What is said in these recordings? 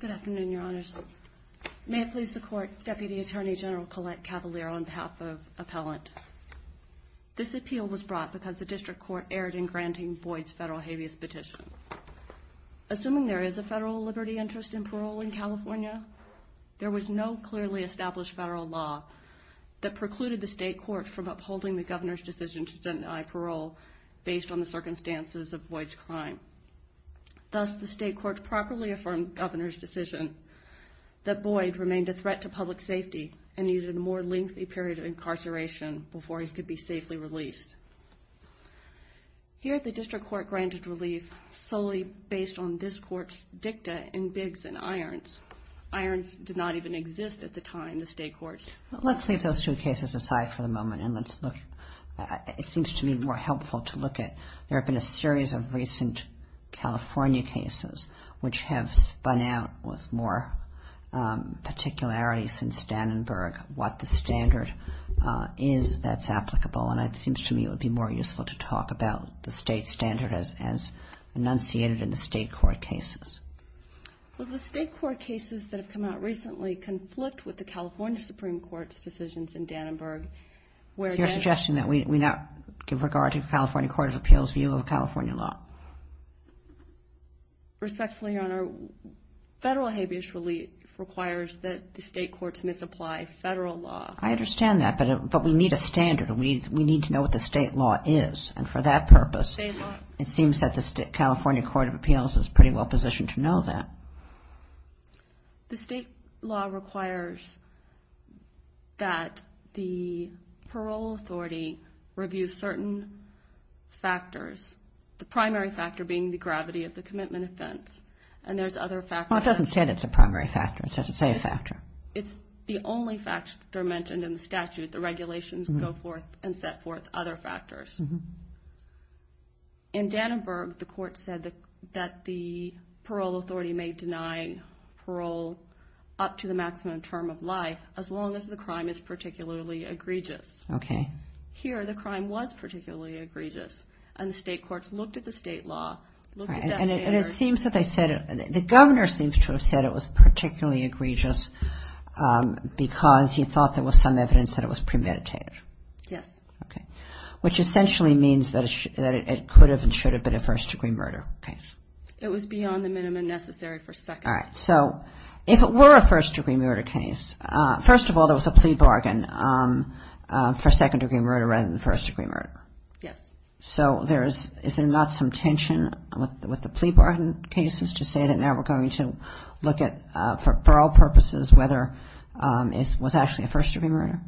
Good afternoon, Your Honors. May it please the Court, Deputy Attorney General Colette Cavalier on behalf of Appellant. This appeal was brought because the District Court erred in granting Boyd's federal habeas petition. Assuming there is a federal liberty interest in parole in California, there was no clearly established federal law that precluded the State Courts from upholding the Governor's decision to deny parole based on the circumstances of Boyd's crime. Thus, the State Courts properly affirmed Governor's decision that Boyd remained a threat to public safety and needed a more lengthy period of incarceration before he could be safely released. Here, the District Court granted relief solely based on this Court's dicta in Biggs and Irons. Irons did not even exist at the time, the State Courts. Let's leave those two cases aside for the moment and let's look at, it seems to me more a series of recent California cases which have spun out with more particularity since Dannenberg what the standard is that's applicable. And it seems to me it would be more useful to talk about the State standard as enunciated in the State Court cases. Well, the State Court cases that have come out recently conflict with the California Supreme Court's decisions in Dannenberg where- You're suggesting that we not give regard to the California Court of Appeals view of California law? Respectfully, Your Honor, federal habeas relief requires that the State Courts misapply federal law. I understand that, but we need a standard. We need to know what the state law is. And for that purpose, it seems that the California Court of Appeals is pretty well positioned to know that. The state law requires that the parole authority review certain factors, the primary factor being the gravity of the commitment offense. And there's other factors- Well, it doesn't say that it's a primary factor. It doesn't say a factor. It's the only factor mentioned in the statute. The regulations go forth and set forth other factors. In Dannenberg, the court said that the parole authority may deny parole up to the maximum term of life as long as the crime is particularly egregious. Here, the crime was particularly egregious, and the state courts looked at the state law, looked at that standard- And it seems that they said- The governor seems to have said it was particularly egregious because he thought there was some evidence that it was premeditated. Yes. Okay. Which essentially means that it could have and should have been a first-degree murder case. It was beyond the minimum necessary for second- All right. So if it were a first-degree murder case, first of all, there was a plea bargain for second-degree murder rather than first-degree murder. Yes. So is there not some tension with the plea bargain cases to say that now we're going to look at, for all purposes, whether it was actually a first-degree murder?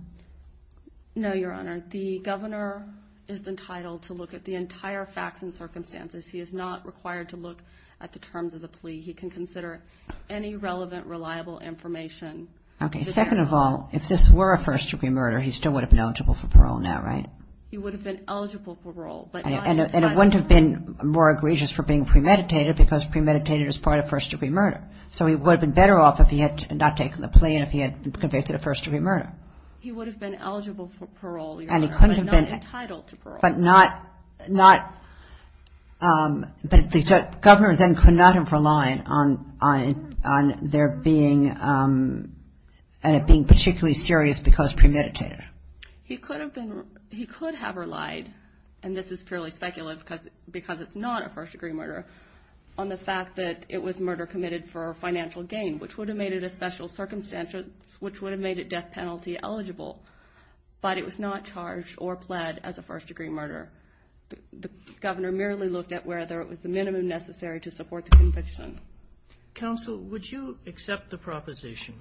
No, Your Honor. The governor is entitled to look at the entire facts and circumstances. He is not required to look at the terms of the plea. He can consider any relevant, reliable information. Okay. Second of all, if this were a first-degree murder, he still would have been eligible for parole now, right? He would have been eligible for parole, but- And it wouldn't have been more egregious for being premeditated because premeditated is part of first-degree murder. So he would have been better off if he had not taken the first-degree murder. He would have been eligible for parole, Your Honor, but not entitled to parole. But not, but the governor then could not have relied on there being, on it being particularly serious because premeditated. He could have been, he could have relied, and this is purely speculative because it's not a first-degree murder, on the fact that it was murder committed for financial gain, which would have made it a special circumstance, which would have made it death penalty eligible, but it was not charged or pled as a first-degree murder. The governor merely looked at whether it was the minimum necessary to support the conviction. Counsel, would you accept the proposition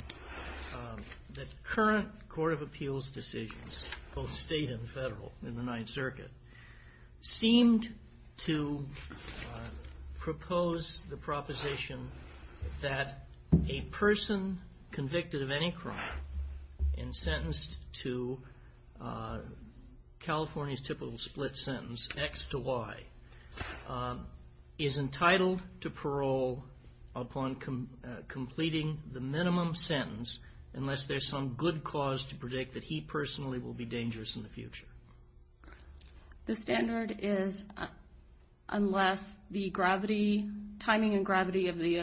that current court of appeals decisions, both state and federal in the Ninth Circuit, seemed to propose the proposition that a first-degree person convicted of any crime and sentenced to California's typical split sentence, X to Y, is entitled to parole upon completing the minimum sentence unless there's some good cause to predict that he personally will be dangerous in the future? The standard is unless the gravity, timing and gravity of the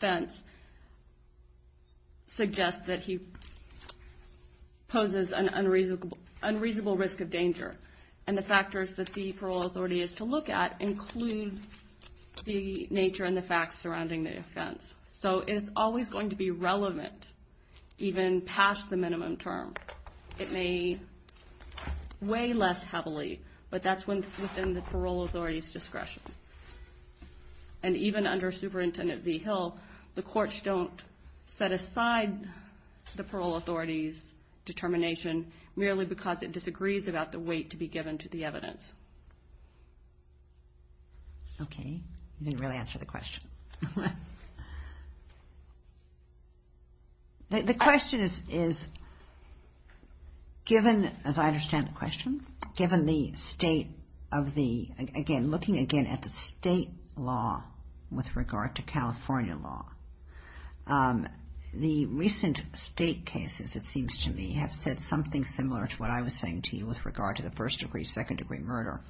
offense is sufficient to suggest that he poses an unreasonable risk of danger, and the factors that the parole authority is to look at include the nature and the facts surrounding the offense. So it's always going to be relevant even past the minimum term. It may weigh less heavily, but that's within the parole authority's discretion. And even under Superintendent V. Hill, the courts don't set aside the parole authority's determination merely because it disagrees about the weight to be given to the evidence. Okay. You didn't really answer the question. The question is, given, as I understand the California law, the recent state cases, it seems to me, have said something similar to what I was saying to you with regard to the first-degree, second-degree murder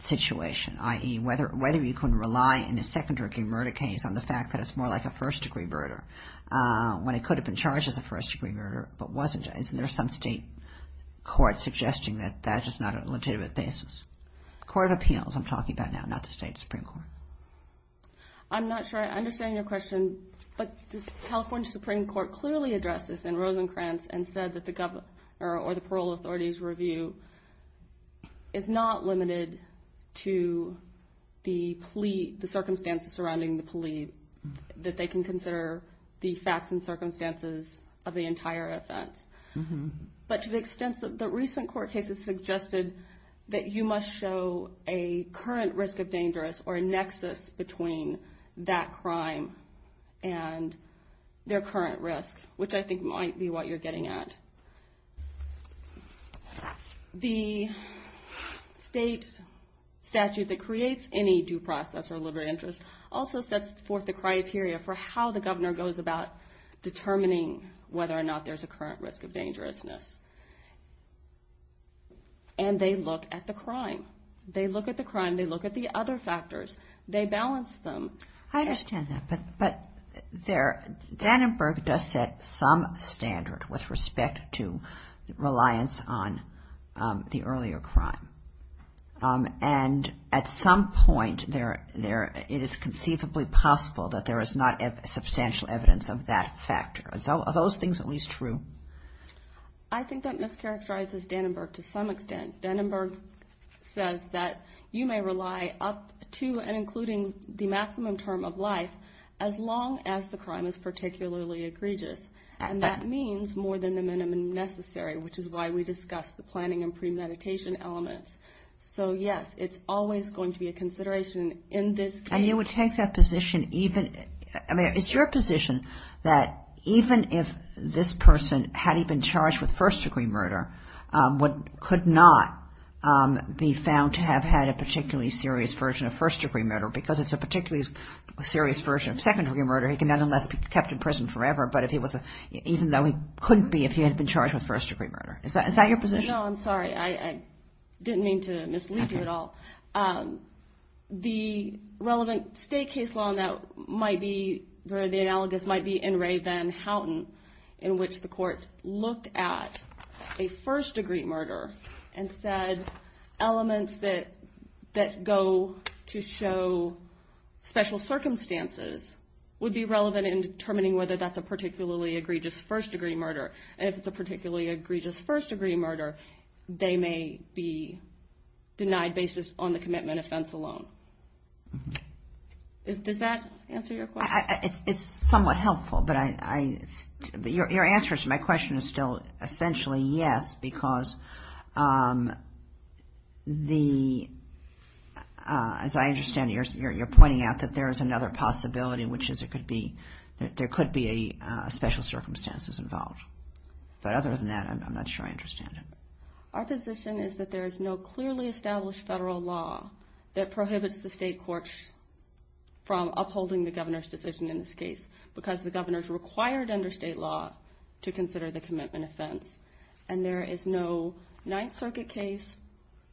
situation, i.e., whether you can rely in a second-degree murder case on the fact that it's more like a first-degree murder when it could have been charged as a first-degree murder, but wasn't. Isn't there some state court suggesting that that is not a legitimate basis? Court of Appeals I'm talking about now, not the state Supreme Court. I'm not sure I understand your question, but the California Supreme Court clearly addressed this in Rosencrantz and said that the parole authority's review is not limited to the plea, the circumstances surrounding the plea, that they can consider the facts and circumstances of the entire offense. But to the extent that the recent court cases suggested that you must show a current risk of dangerous or a nexus between that crime and their current risk, which I think might be what you're getting at. The state statute that creates any due process or liberty of interest also sets forth the criteria for how the governor goes about determining whether or not there's a current risk of dangerousness. And they look at the crime. They look at the crime. They look at the other factors. They balance them. I understand that, but Dannenberg does set some standard with respect to reliance on the earlier crime. And at some point, it is conceivably possible that there is not substantial evidence of that factor. Are those things at least true? I think that mischaracterizes Dannenberg to some extent. Dannenberg says that you may rely up to and including the maximum term of life as long as the crime is particularly egregious. And that means more than the minimum necessary, which is why we discussed the planning and premeditation elements. So yes, it's always going to be a consideration in this case. And you would take that position even, I mean, it's your position that even if this person had even been charged with first degree murder, what could not be found to have had a particularly serious version of first degree murder, because it's a particularly serious version of second degree murder, he can nonetheless be kept in prison forever, even though he couldn't be if he had been charged with first degree murder. Is that your position? No, I'm sorry. I didn't mean to mislead you at all. The relevant state case law that might be the analogous might be in Ray Van Houten, in which the court looked at a first degree murder and said elements that go to show special circumstances would be relevant in determining whether that's a particularly egregious first degree murder. And if it's a particularly egregious first degree murder, they may be denied basis on the commitment offense alone. Does that answer your question? It's somewhat helpful, but your answer to my question is still essentially yes, because as I understand it, you're pointing out that there is another possibility, which is there could be special circumstances involved. But other than that, I'm not sure I understand it. Our position is that there is no clearly established federal law that prohibits the state courts from upholding the governor's decision in this case, because the governor's required under state law to consider the commitment offense. And there is no Ninth Circuit case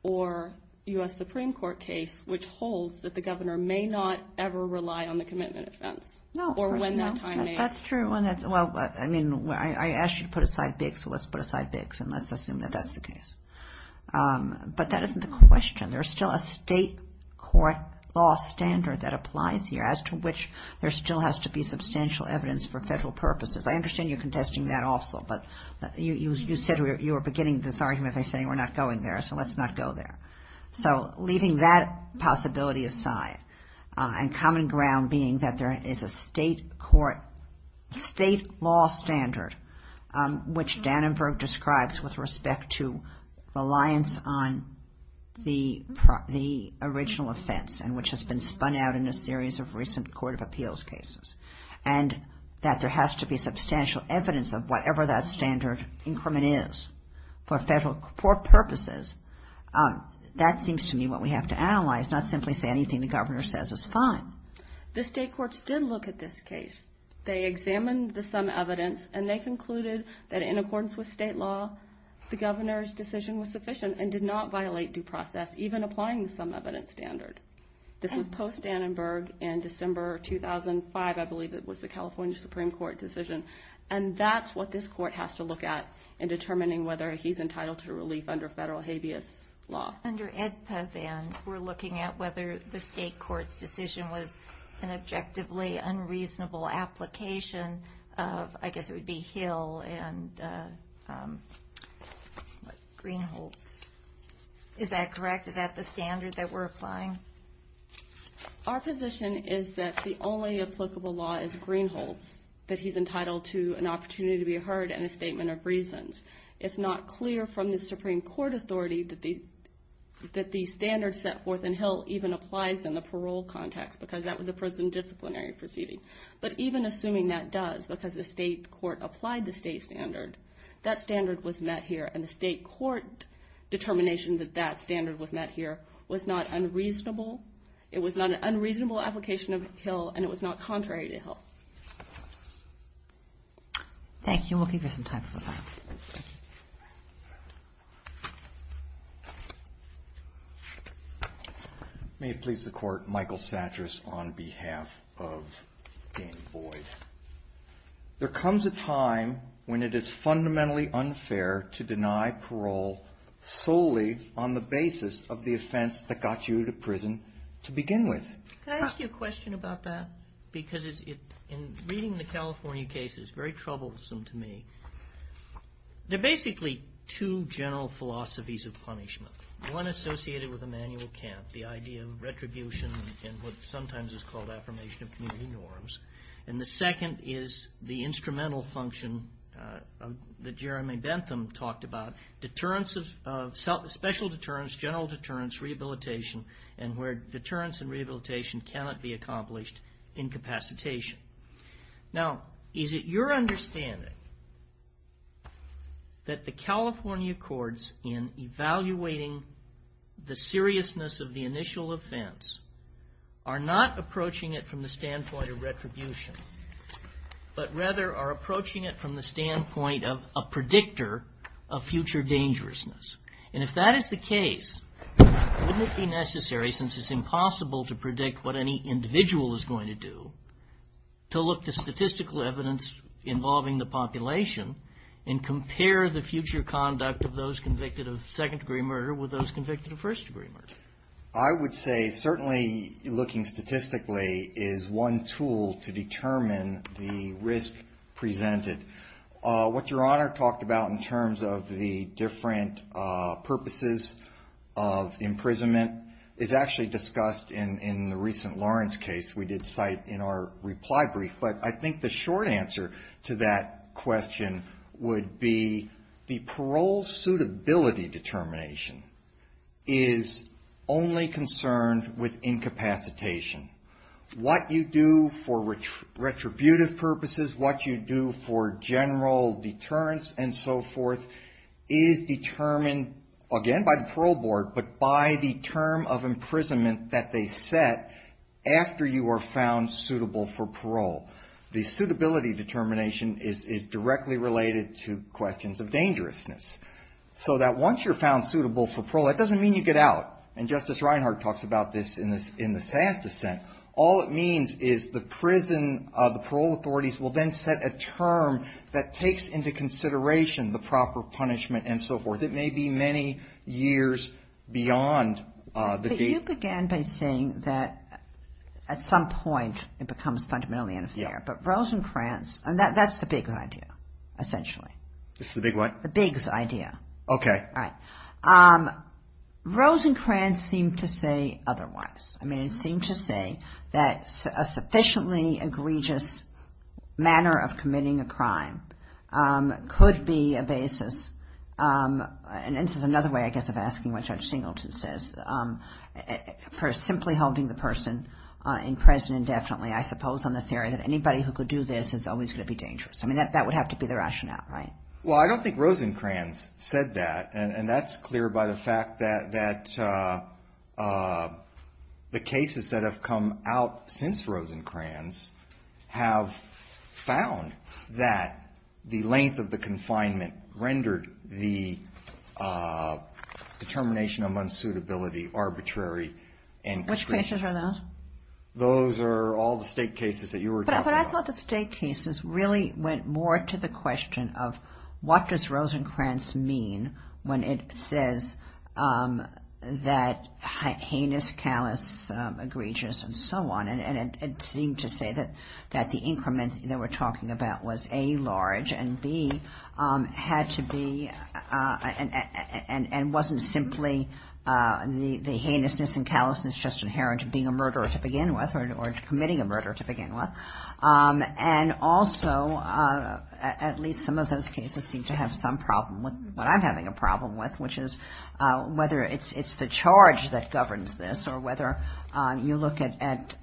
or U.S. Supreme Court case which holds that the governor may not ever rely on the commitment offense or when that time may occur. That's true. Well, I mean, I asked you to put aside Biggs, so let's put aside Biggs and let's assume that that's the case. But that isn't the question. There's still a state court law standard that applies here as to which there still has to be substantial evidence for federal purposes. I understand you're contesting that also, but you said you were beginning this argument by saying we're not going there, so let's not go there. So leaving that possibility aside and common ground being that there is a state court, state law standard which Dannenberg describes with respect to reliance on the original offense and which has been spun out in a series of recent court of appeals cases and that there has to be substantial evidence of whatever that standard increment is for federal court purposes, that seems to me what we have to analyze, not simply say anything the governor says is fine. The state courts did look at this case. They examined the sum evidence and they concluded that in accordance with state law, the governor's decision was sufficient and did not violate due process, even applying the sum evidence standard. This was post-Dannenberg in December 2005, I believe it was the California Supreme Court decision. And that's what this court has to look at in determining whether he's entitled to relief under federal habeas law. Not under AEDPA, then, we're looking at whether the state court's decision was an objectively unreasonable application of, I guess it would be Hill and Greenholz. Is that correct? Is that the standard that we're applying? Our position is that the only applicable law is Greenholz, that he's entitled to an opportunity to be heard and a statement of reasons. It's not clear from the Supreme Court authority that the standard set forth in Hill even applies in the parole context because that was a prison disciplinary proceeding. But even assuming that does because the state court applied the state standard, that standard was met here and the state court determination that that standard was met here was not unreasonable. It was not an unreasonable application of Hill and it was not contrary to Hill. Thank you. We'll give you some time for the final question. May it please the Court, Michael Satras on behalf of Dan Boyd. There comes a time when it is fundamentally unfair to deny parole solely on the basis of the offense that got you to prison to begin with. Can I ask you a question about that? Because in reading the California case, it's very troublesome to me. There are basically two general philosophies of punishment. One associated with Immanuel Kant, the idea of retribution and what sometimes is called affirmation of community norms. And the second is the instrumental function that Jeremy Bentham talked about, deterrence of, special deterrence, general deterrence, rehabilitation and where deterrence and rehabilitation cannot be accomplished in capacitation. Now, is it your understanding that the California courts in evaluating the seriousness of the initial offense are not approaching it from the standpoint of retribution, but rather are approaching it from the standpoint of a predictor of future dangerousness? And if that is the case, wouldn't it be necessary, since it's impossible to predict what any individual is going to do, to look to statistical evidence involving the population and compare the future conduct of those convicted of second degree murder with those convicted of first degree murder? I would say certainly looking statistically is one tool to determine the risk presented. What Your Honor talked about in terms of the different purposes of imprisonment is actually discussed in the recent Lawrence case we did cite in our reply brief. But I think the short answer to that question would be the parole suitability determination is only concerned with incapacitation. What you do for retributive purposes, what you do for general deterrence and so forth is determined, again by the parole board, but by the term of imprisonment that they set after you are found suitable for parole. The suitability determination is directly related to questions of dangerousness. So that once you're found suitable for parole, that doesn't mean you get out. And Justice Reinhart talks about this in the Sass dissent. All it means is the prison, the parole authorities will then set a term that takes into consideration the proper punishment and so forth. It may be many years beyond the date. But you began by saying that at some point it becomes fundamentally unfair. But Rosenkrantz, and that's the big idea, essentially. This is the big what? The big idea. Okay. All right. Rosenkrantz seemed to say otherwise. I mean, it seemed to say that a sufficiently egregious manner of committing a crime could be a basis. And this is another way, I guess, of asking what Judge Singleton says. For simply holding the person in prison indefinitely, I suppose on the theory that anybody who could do this is always going to be dangerous. I mean, that would have to be the rationale, right? Well, I don't think Rosenkrantz said that. And that's clear by the fact that the cases that have come out since Rosenkrantz have found that the length of the confinement rendered the determination of unsuitability arbitrary and constrained. Which cases are those? Those are all the State cases that you were talking about. But I thought the State cases really went more to the question of what does Rosenkrantz mean when it says that heinous, callous, egregious, and so on. And it seemed to say that the increment that we're talking about was A, large, and B, had to be, and wasn't simply the heinousness and callousness just inherent to being a murderer to begin with or committing a murder to begin with. And also, at least some of those cases seem to have some problem with what I'm having a problem with, which is whether it's the charge that governs this or whether you look at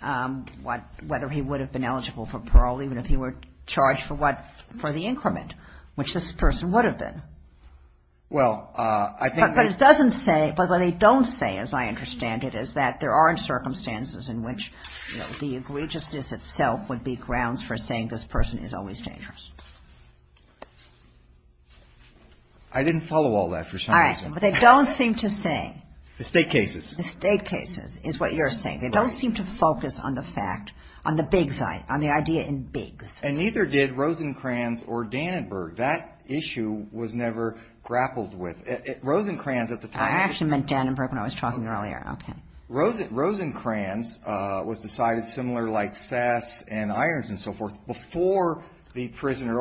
what, whether he would have been eligible for parole even if he were charged for what, for the increment, which this person would have been. Well, I think that But it doesn't say, but what they don't say, as I understand it, is that there are circumstances in which the egregiousness itself would be grounds for saying this person is always dangerous. I didn't follow all that for some reason. All right. But they don't seem to say The State cases The State cases is what you're saying. They don't seem to focus on the fact, on the big side, on the idea in bigs. And neither did Rosenkrantz or Dannenberg. That issue was never grappled with. Rosenkrantz at the time I actually meant Dannenberg when I was talking earlier. Okay. Rosenkrantz was decided, similar like Sass and Irons and so forth, before the prisoner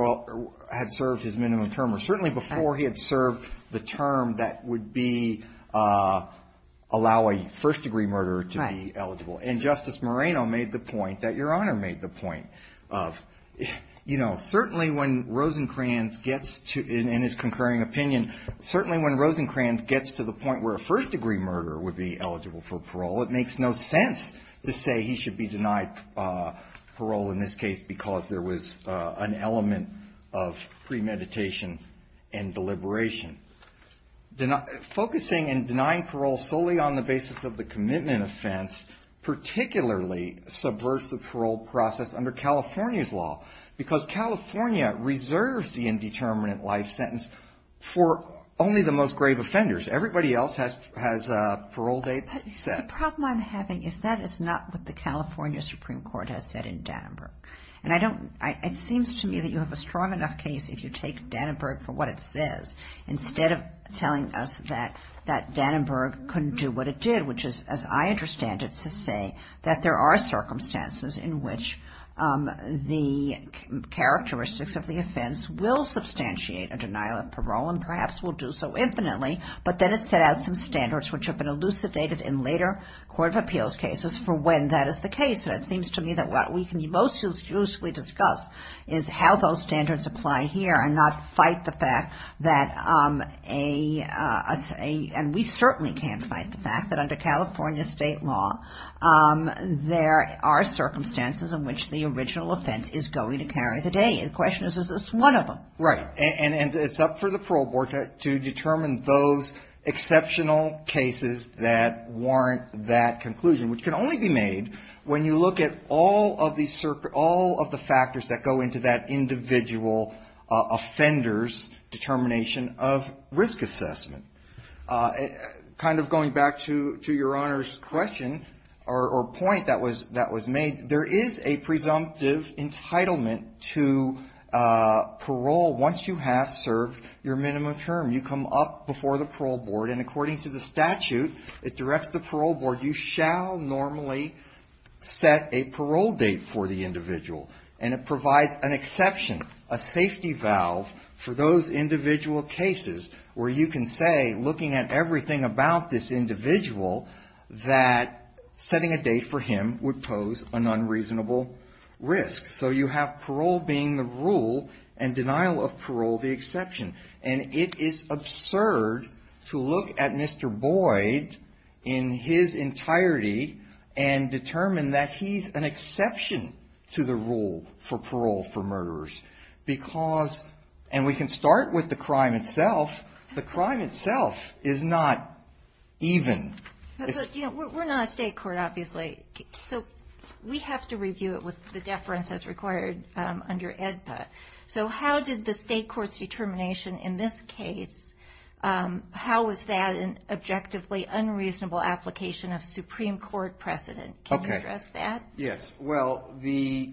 had served his minimum term or certainly before he had served the term that would be, allow a first-degree murderer to be eligible. And Justice Moreno made the point that Your Honor made the point of, you know, certainly when Rosenkrantz gets to, in his concurring opinion, certainly when Rosenkrantz gets to the point where a first-degree murderer would be eligible for parole, it makes no sense to say he should be denied parole in this case because there was an element of premeditation and deliberation. Focusing and denying parole solely on the basis of the commitment offense particularly subverts the parole process under California's law. Because California reserves the indeterminate life sentence for only the most grave offenders. Everybody else has parole dates set. The problem I'm having is that is not what the California Supreme Court has said in Dannenberg. And I don't, it seems to me that you have a strong enough case if you take Dannenberg for what it says instead of telling us that Dannenberg couldn't do what it did, which is, as I understand it, to say that there are circumstances in which the characteristics of the offense will substantiate a denial of parole and perhaps will do so infinitely, but then it set out some standards which have been elucidated in later court of appeals cases for when that is the case. And it seems to me that what we can most usefully discuss is how those standards apply here and not fight the fact that a, and we certainly can't fight the fact that under California state law there are circumstances in which the original offense is going to carry the day. The question is, is this one of them? Right. And it's up for the parole board to determine those exceptional cases that warrant that conclusion, which can only be made when you look at all of the factors that go into that individual offender's determination of risk assessment. Kind of going back to your Honor's question or point that was made, there is a presumptive entitlement to parole once you have served your minimum term. You come up before the parole board and according to the statute, it directs the parole board, you shall normally set a parole date for the individual. And it provides an exception, a safety valve for those individual cases where you can say, looking at everything about this individual, that setting a date for him would pose an unreasonable risk. So you have parole being the rule and denial of parole the exception. And it is absurd to look at Mr. Boyd in his entirety and determine that he's an exception to the rule for parole for murderers. Because, and we can start with the crime itself, the crime itself is not even. But you know, we're not a state court, obviously. So we have to review it with the deference as required under AEDPA. So how did the state court's determination in this case, how was that an objectively unreasonable application of Supreme Court precedent? Can you address that? Yes. Well, the,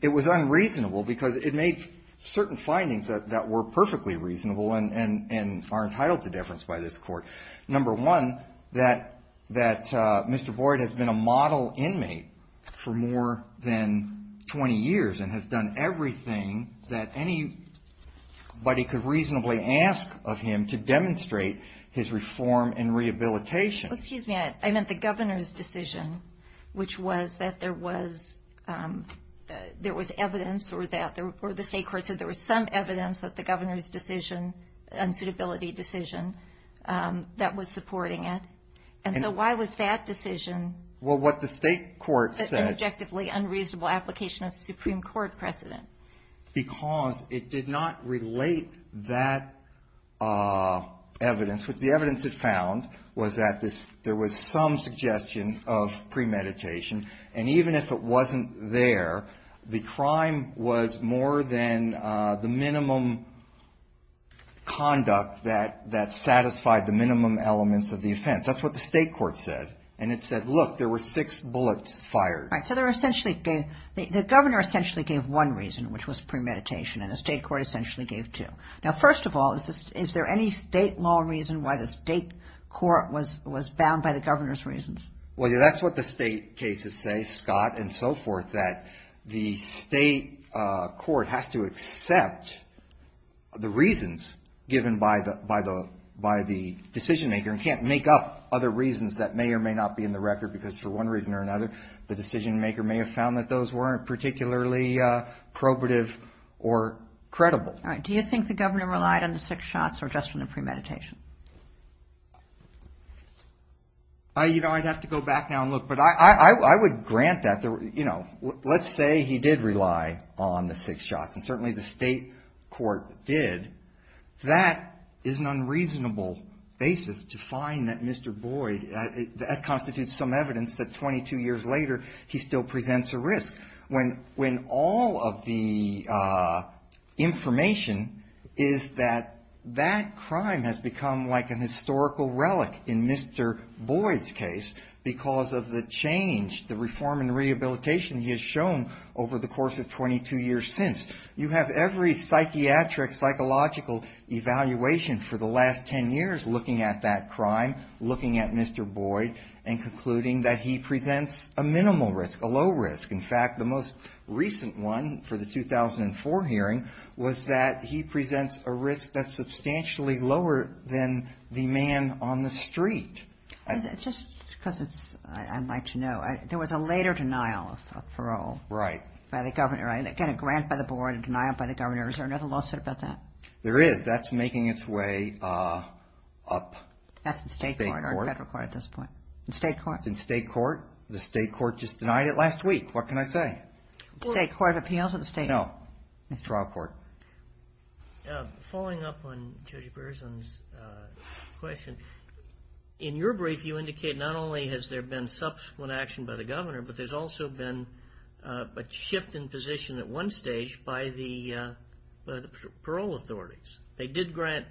it was unreasonable because it made certain findings that were perfectly reasonable and are entitled to deference by this court. Number one, that Mr. Boyd has been a model inmate for more than 20 years and has done everything that anybody could reasonably ask of him to demonstrate his reform and rehabilitation. Excuse me. I meant the governor's decision, which was that there was, there was evidence or that the state court said there was some evidence that the governor's decision, unsuitability decision, that was supporting it. And so why was that decision- Well, what the state court said- An objectively unreasonable application of Supreme Court precedent. Because it did not relate that evidence, which the evidence it found was that there was some suggestion of premeditation. And even if it wasn't there, the crime was more than the minimum conduct that satisfied the minimum elements of the offense. That's what the state court said. And it said, look, there were six bullets fired. So there were essentially, the governor essentially gave one reason, which was premeditation. And the state court essentially gave two. Now, first of all, is this, is there any state law reason why the state court was, was bound by the governor's reasons? Well, that's what the state cases say, Scott and so forth, that the state court has to accept the reasons given by the, by the, by the decision maker and can't make up other reasons, which may not be in the record because for one reason or another, the decision maker may have found that those weren't particularly probative or credible. All right. Do you think the governor relied on the six shots or just on the premeditation? You know, I'd have to go back now and look, but I, I, I would grant that, you know, let's say he did rely on the six shots and certainly the state court did. That is an unreasonable basis to find that Mr. Boyd, that constitutes some evidence that 22 years later, he still presents a risk when, when all of the information is that that crime has become like an historical relic in Mr. Boyd's case because of the change, the reform and rehabilitation he has shown over the course of 22 years since. You have every psychiatric, psychological evaluation for the last 10 years looking at that crime, looking at Mr. Boyd and concluding that he presents a minimal risk, a low risk. In fact, the most recent one for the 2004 hearing was that he presents a risk that's substantially lower than the man on the street. Just because it's, I'd like to know, there was a later denial of, of parole. Right. By the governor. Again, a grant by the board, a denial by the governor. Is there another lawsuit about that? There is. That's making its way up. That's in state court or federal court at this point. In state court. It's in state court. The state court just denied it last week. What can I say? State court appeals at the state court. No. Trial court. Following up on Judge Berzon's question, in your brief you indicate not only has there been subsequent action by the governor, but there's also been a shift in position at one stage by the parole authorities. They did grant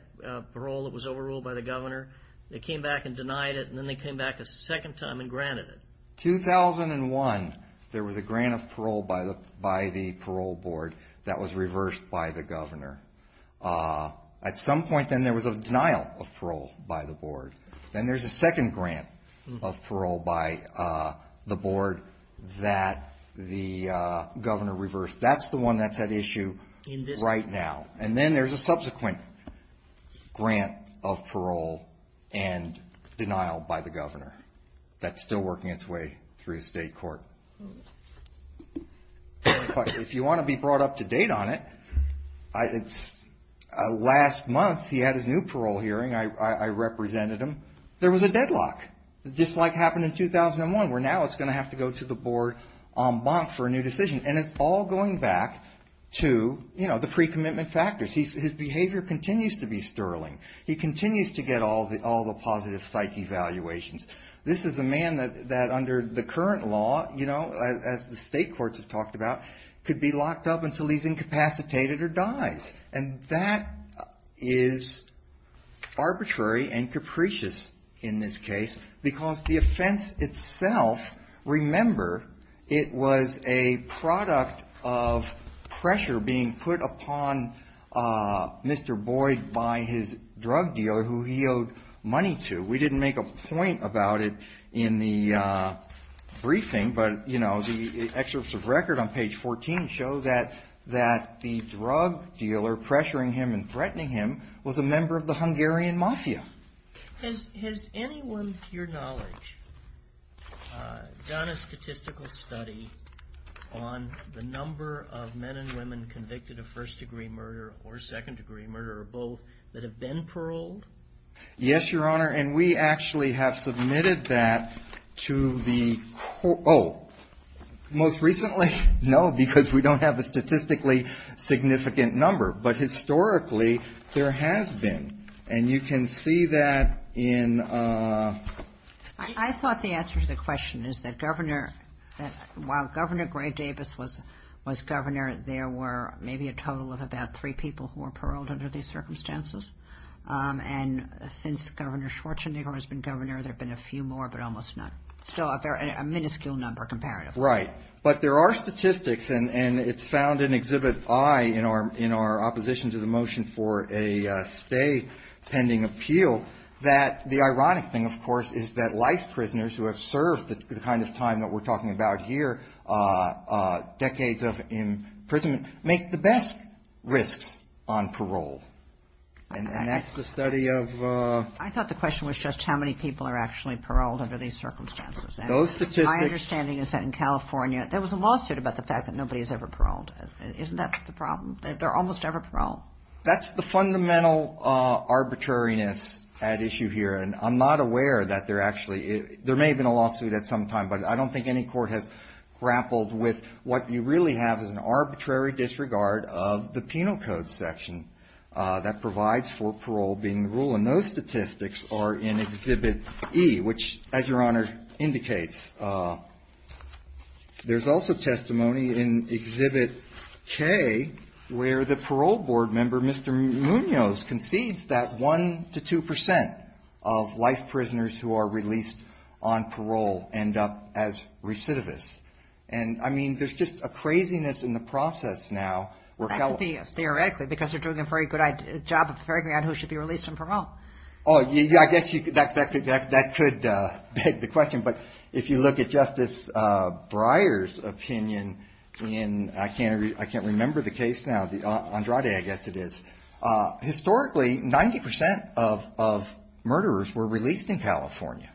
parole that was overruled by the governor. They came back and denied it, and then they came back a second time and granted it. 2001, there was a grant of parole by the parole board that was reversed by the governor. At some point then there was a denial of parole by the board. Then there's a second grant of parole by the board that the governor reversed. That's the one that's at issue right now. Then there's a subsequent grant of parole and denial by the governor that's still working its way through state court. If you want to be brought up to date on it, last month he had his new parole hearing. I represented him. There was a deadlock, just like happened in 2001, where now it's going to have to go to the board en banc for a new decision. It's all going back to the pre-commitment factors. His behavior continues to be sterling. He continues to get all the positive psych evaluations. This is the man that under the current law, as the state courts have talked about, could be locked up until he's incapacitated or dies. That is arbitrary and capricious in this case because the offense itself, remember, it was a product of pressure being put upon Mr. Boyd by his drug dealer who he owed money to. We didn't make a point about it in the briefing, but the excerpts of record on page 14 show that the drug dealer pressuring him and threatening him was a member of the Hungarian Mafia. Has anyone, to your knowledge, done a statistical study on the number of men and women convicted of first degree murder or second degree murder or both that have been paroled? Yes, Your Honor, and we actually have submitted that to the, oh, most recently? No, because we don't have a statistically significant number, but historically there has been, and you can see that in... I thought the answer to the question is that while Governor Gray Davis was governor, there were maybe a total of about three people who were paroled under these circumstances, and since Governor Schwarzenegger has been governor, there have been a few more, but almost none. So a miniscule number comparative. Right, but there are statistics, and it's found in Exhibit I in our opposition to the motion for a stay pending appeal that the ironic thing, of course, is that life prisoners who have served the kind of time that we're talking about here, decades of imprisonment, make the best risks on parole, and that's the study of... I thought the question was just how many people are actually paroled under these circumstances. Those statistics... My understanding is that in California, there was a lawsuit about the fact that nobody is ever paroled. Isn't that the problem? They're almost ever paroled. That's the fundamental arbitrariness at issue here, and I'm not aware that there actually may have been a lawsuit at some time, but I don't think any court has grappled with what you really have is an arbitrary disregard of the penal code section that provides for parole being the rule, and those statistics are in Exhibit E, which, as Your Honor indicates, there's also testimony in Exhibit K where the parole board member, Mr. Munoz, concedes that one to two percent of life prisoners who are released on parole end up as recidivists, and I mean, there's just a craziness in the process now where... That could be, theoretically, because they're doing a very good job of figuring out who should be released on parole. I guess that could beg the question, but if you look at Justice Breyer's opinion in... Ninety percent of murderers were released in California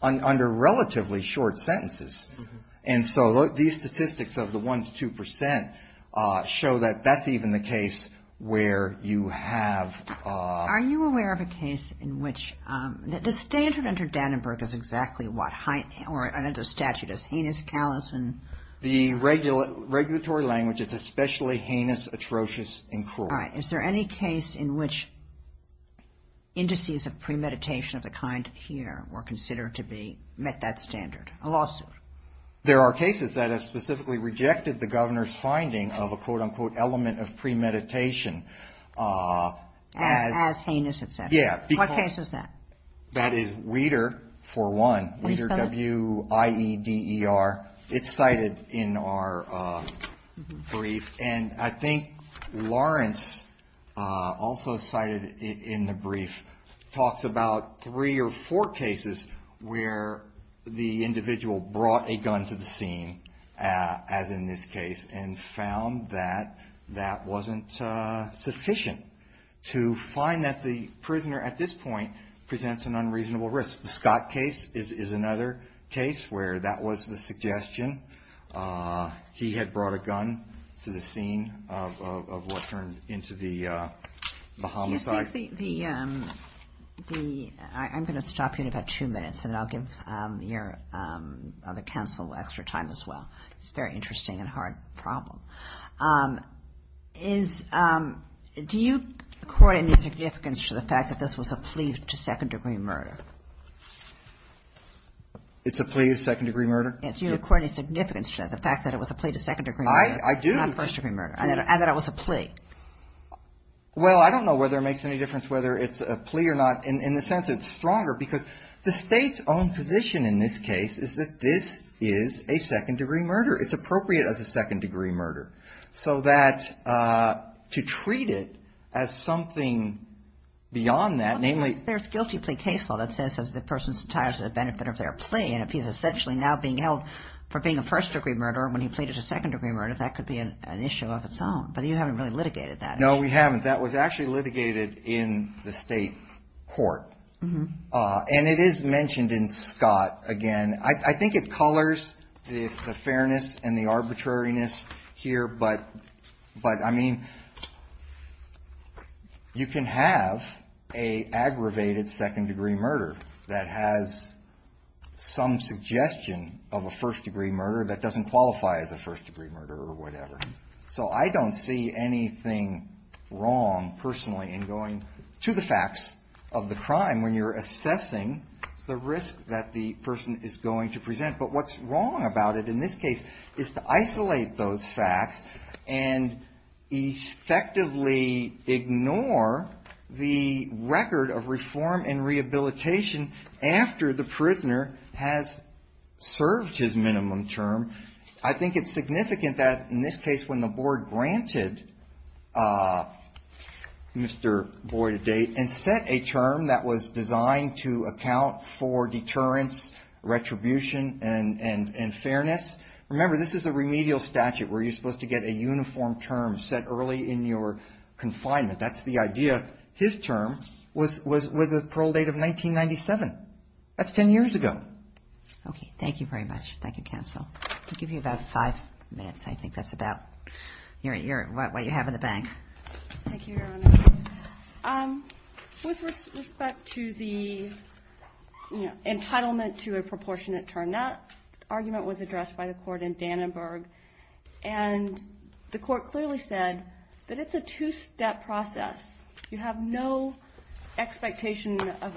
under relatively short sentences, and so these statistics of the one to two percent show that that's even the case where you have... Are you aware of a case in which... The standard under Dannenberg is exactly what, or the statute is heinous, callous, and... The regulatory language is especially heinous, atrocious, and cruel. Is there any case in which indices of premeditation of the kind here were considered to have met that standard? A lawsuit? There are cases that have specifically rejected the Governor's finding of a quote-unquote element of premeditation as... As heinous, et cetera. What case is that? That is Weider, for one. Weider, W-I-E-D-E-R. It's cited in our brief, and I think Lawrence also cited in the brief talks about three or four cases where the individual brought a gun to the scene, as in this case, and found that that wasn't sufficient to find that the prisoner at this point presents an unreasonable risk. The Scott case is another case where that was the suggestion. He had brought a gun to the scene of what turned into the homicide. I'm going to stop you in about two minutes, and then I'll give your other counsel extra time as well. It's a very interesting and hard problem. Do you accord any significance to the fact that this was a plea to second-degree murder? It's a plea to second-degree murder? Do you accord any significance to the fact that it was a plea to second-degree murder? I do. Not first-degree murder, and that it was a plea. Well, I don't know whether it makes any difference whether it's a plea or not in the sense it's stronger because the State's own position in this case is that this is a second-degree murder. It's appropriate as a second-degree murder. So that to treat it as something beyond that, namely Well, there's a guilty plea case law that says that the person's entitled to the benefit of their plea, and if he's essentially now being held for being a first-degree murder when he pleaded a second-degree murder, that could be an issue of its own, but you haven't really litigated that. No, we haven't. That was actually litigated in the State court, and it is mentioned in Scott again. I think it colors the fairness and the arbitrariness here, but I mean, you can have an aggravated second-degree murder that has some suggestion of a first-degree murder that doesn't qualify as a first-degree murder or whatever. So I don't see anything wrong personally in going to the facts of the crime when you're assessing the risk that the person is going to present. But what's wrong about it in this case is to isolate those facts and effectively ignore the record of reform and rehabilitation after the prisoner has served his minimum term? I think it's significant that in this case when the board granted Mr. Boyd a date and set a term that was designed to account for deterrence, retribution, and fairness. Remember, this is a remedial statute where you're supposed to get a uniform term set early in your confinement. That's the idea. His term was a parole date of 1997. That's 10 years ago. Thank you very much. Thank you, counsel. I'll give you about five minutes. I think that's about what you have in the bank. Thank you, Your Honor. With respect to the entitlement to a proportionate term, that argument was addressed by the court in Dannenberg, and the court clearly said that it's a two-step process. You have no expectation of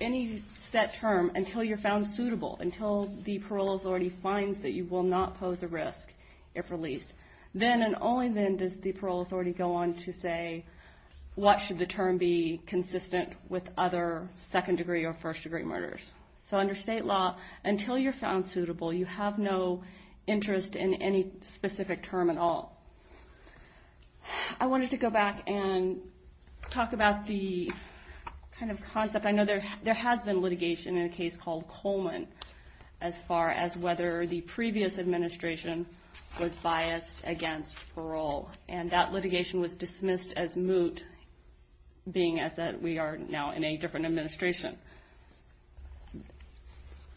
any set term until you're found suitable, until the parole authority finds that you will not pose a risk if released. Then and only then does the parole authority go on to say, what should the term be consistent with other second-degree or first-degree murders? So under state law, until you're found suitable, you have no interest in any specific term at all. I wanted to go back and talk about the kind of concept. I know there has been litigation in a case called Coleman, as far as whether the previous administration was biased against parole. That litigation was dismissed as moot, being as that we are now in a different administration.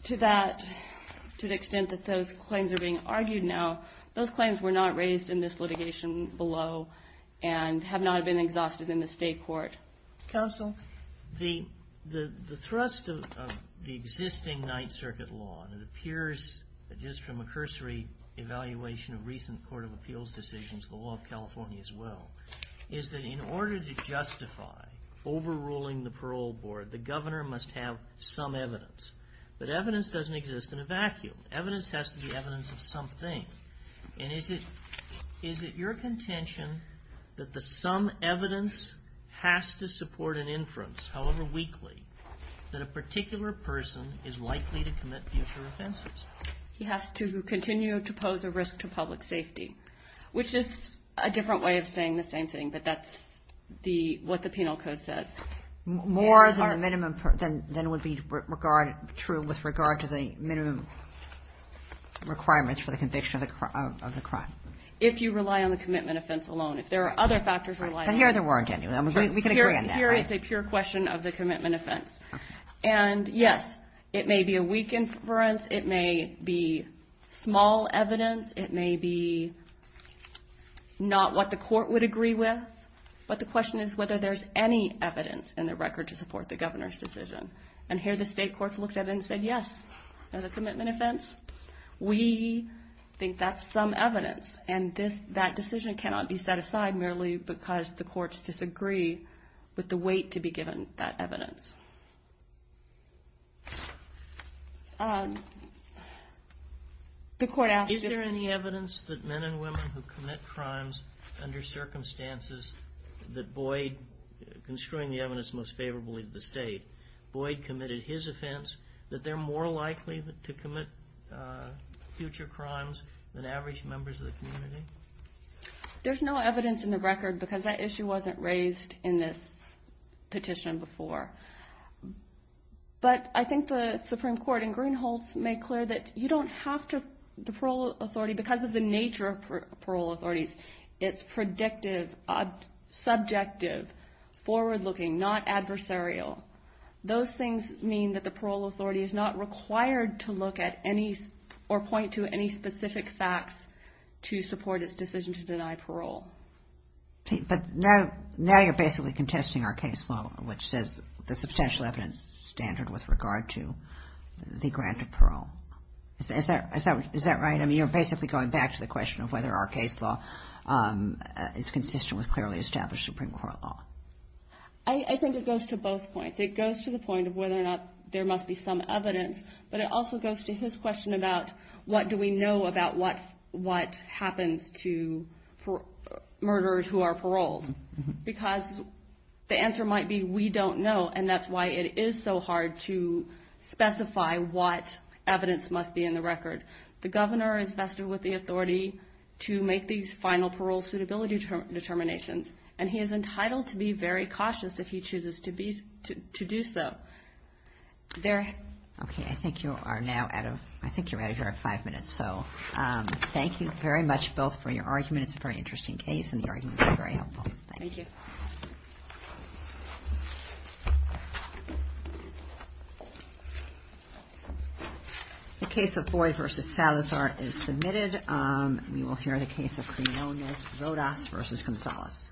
To the extent that those claims are being argued now, those claims were not raised in this litigation below, and have not been exhausted in the state court. Counsel, the thrust of the existing Ninth Circuit law, and it appears just from a cursory evaluation of recent court of appeals decisions, the law of California as well, is that in order to justify overruling the parole board, the governor must have some evidence. But the evidence has to be evidence of something. And is it your contention that the some evidence has to support an inference, however weakly, that a particular person is likely to commit future offenses? He has to continue to pose a risk to public safety, which is a different way of saying the same thing, but that's what the penal code says. More than would be true with regard to the minimum requirements for the conviction of the crime. If you rely on the commitment offense alone. If there are other factors. But here there weren't any. We can agree on that. Here it's a pure question of the commitment offense. And yes, it may be a weak inference. It may be small evidence. It may be not what the court would agree with. But the question is whether there's any evidence in the record to support the governor's decision. And here the state courts looked at it and said, yes, there's a commitment offense. We think that's some evidence. And that decision cannot be set aside merely because the courts disagree with the weight to be given that evidence. The court asked if there any evidence that men and women who commit crimes under circumstances that Boyd, construing the evidence most favorably to the state, Boyd committed his offense, that they're more likely to commit future crimes than average members of the community? There's no evidence in the record because that issue wasn't raised in this petition before. But I think the Supreme Court and Greenholz made clear that you don't have to the parole authority because of the nature of parole authorities. It's predictive, subjective, forward-looking, not adversarial. Those things mean that the parole authority is not required to look at any or point to any specific facts to support its decision to deny parole. But now you're basically contesting our case law, which says the substantial evidence standard with regard to the grant of parole. Is that right? I mean, you're basically going back to the question of whether our case law is consistent with clearly established Supreme Court law. I think it goes to both points. It goes to the point of whether or not there must be some evidence. But it also goes to his question about what do we know about what happens to murderers who are paroled. Because the answer might be we don't know, and that's why it is so hard to specify what evidence must be in the record. The governor is vested with the authority to make these final parole suitability determinations, and he is entitled to be very cautious if he chooses to do so. Okay, I think you are now out of, I think you're out of your five minutes. So thank you very much both for your argument. It's a very interesting case and the argument was very good. The case of Boyd v. Salazar is submitted. We will hear the case of Rodas v. Gonzalez.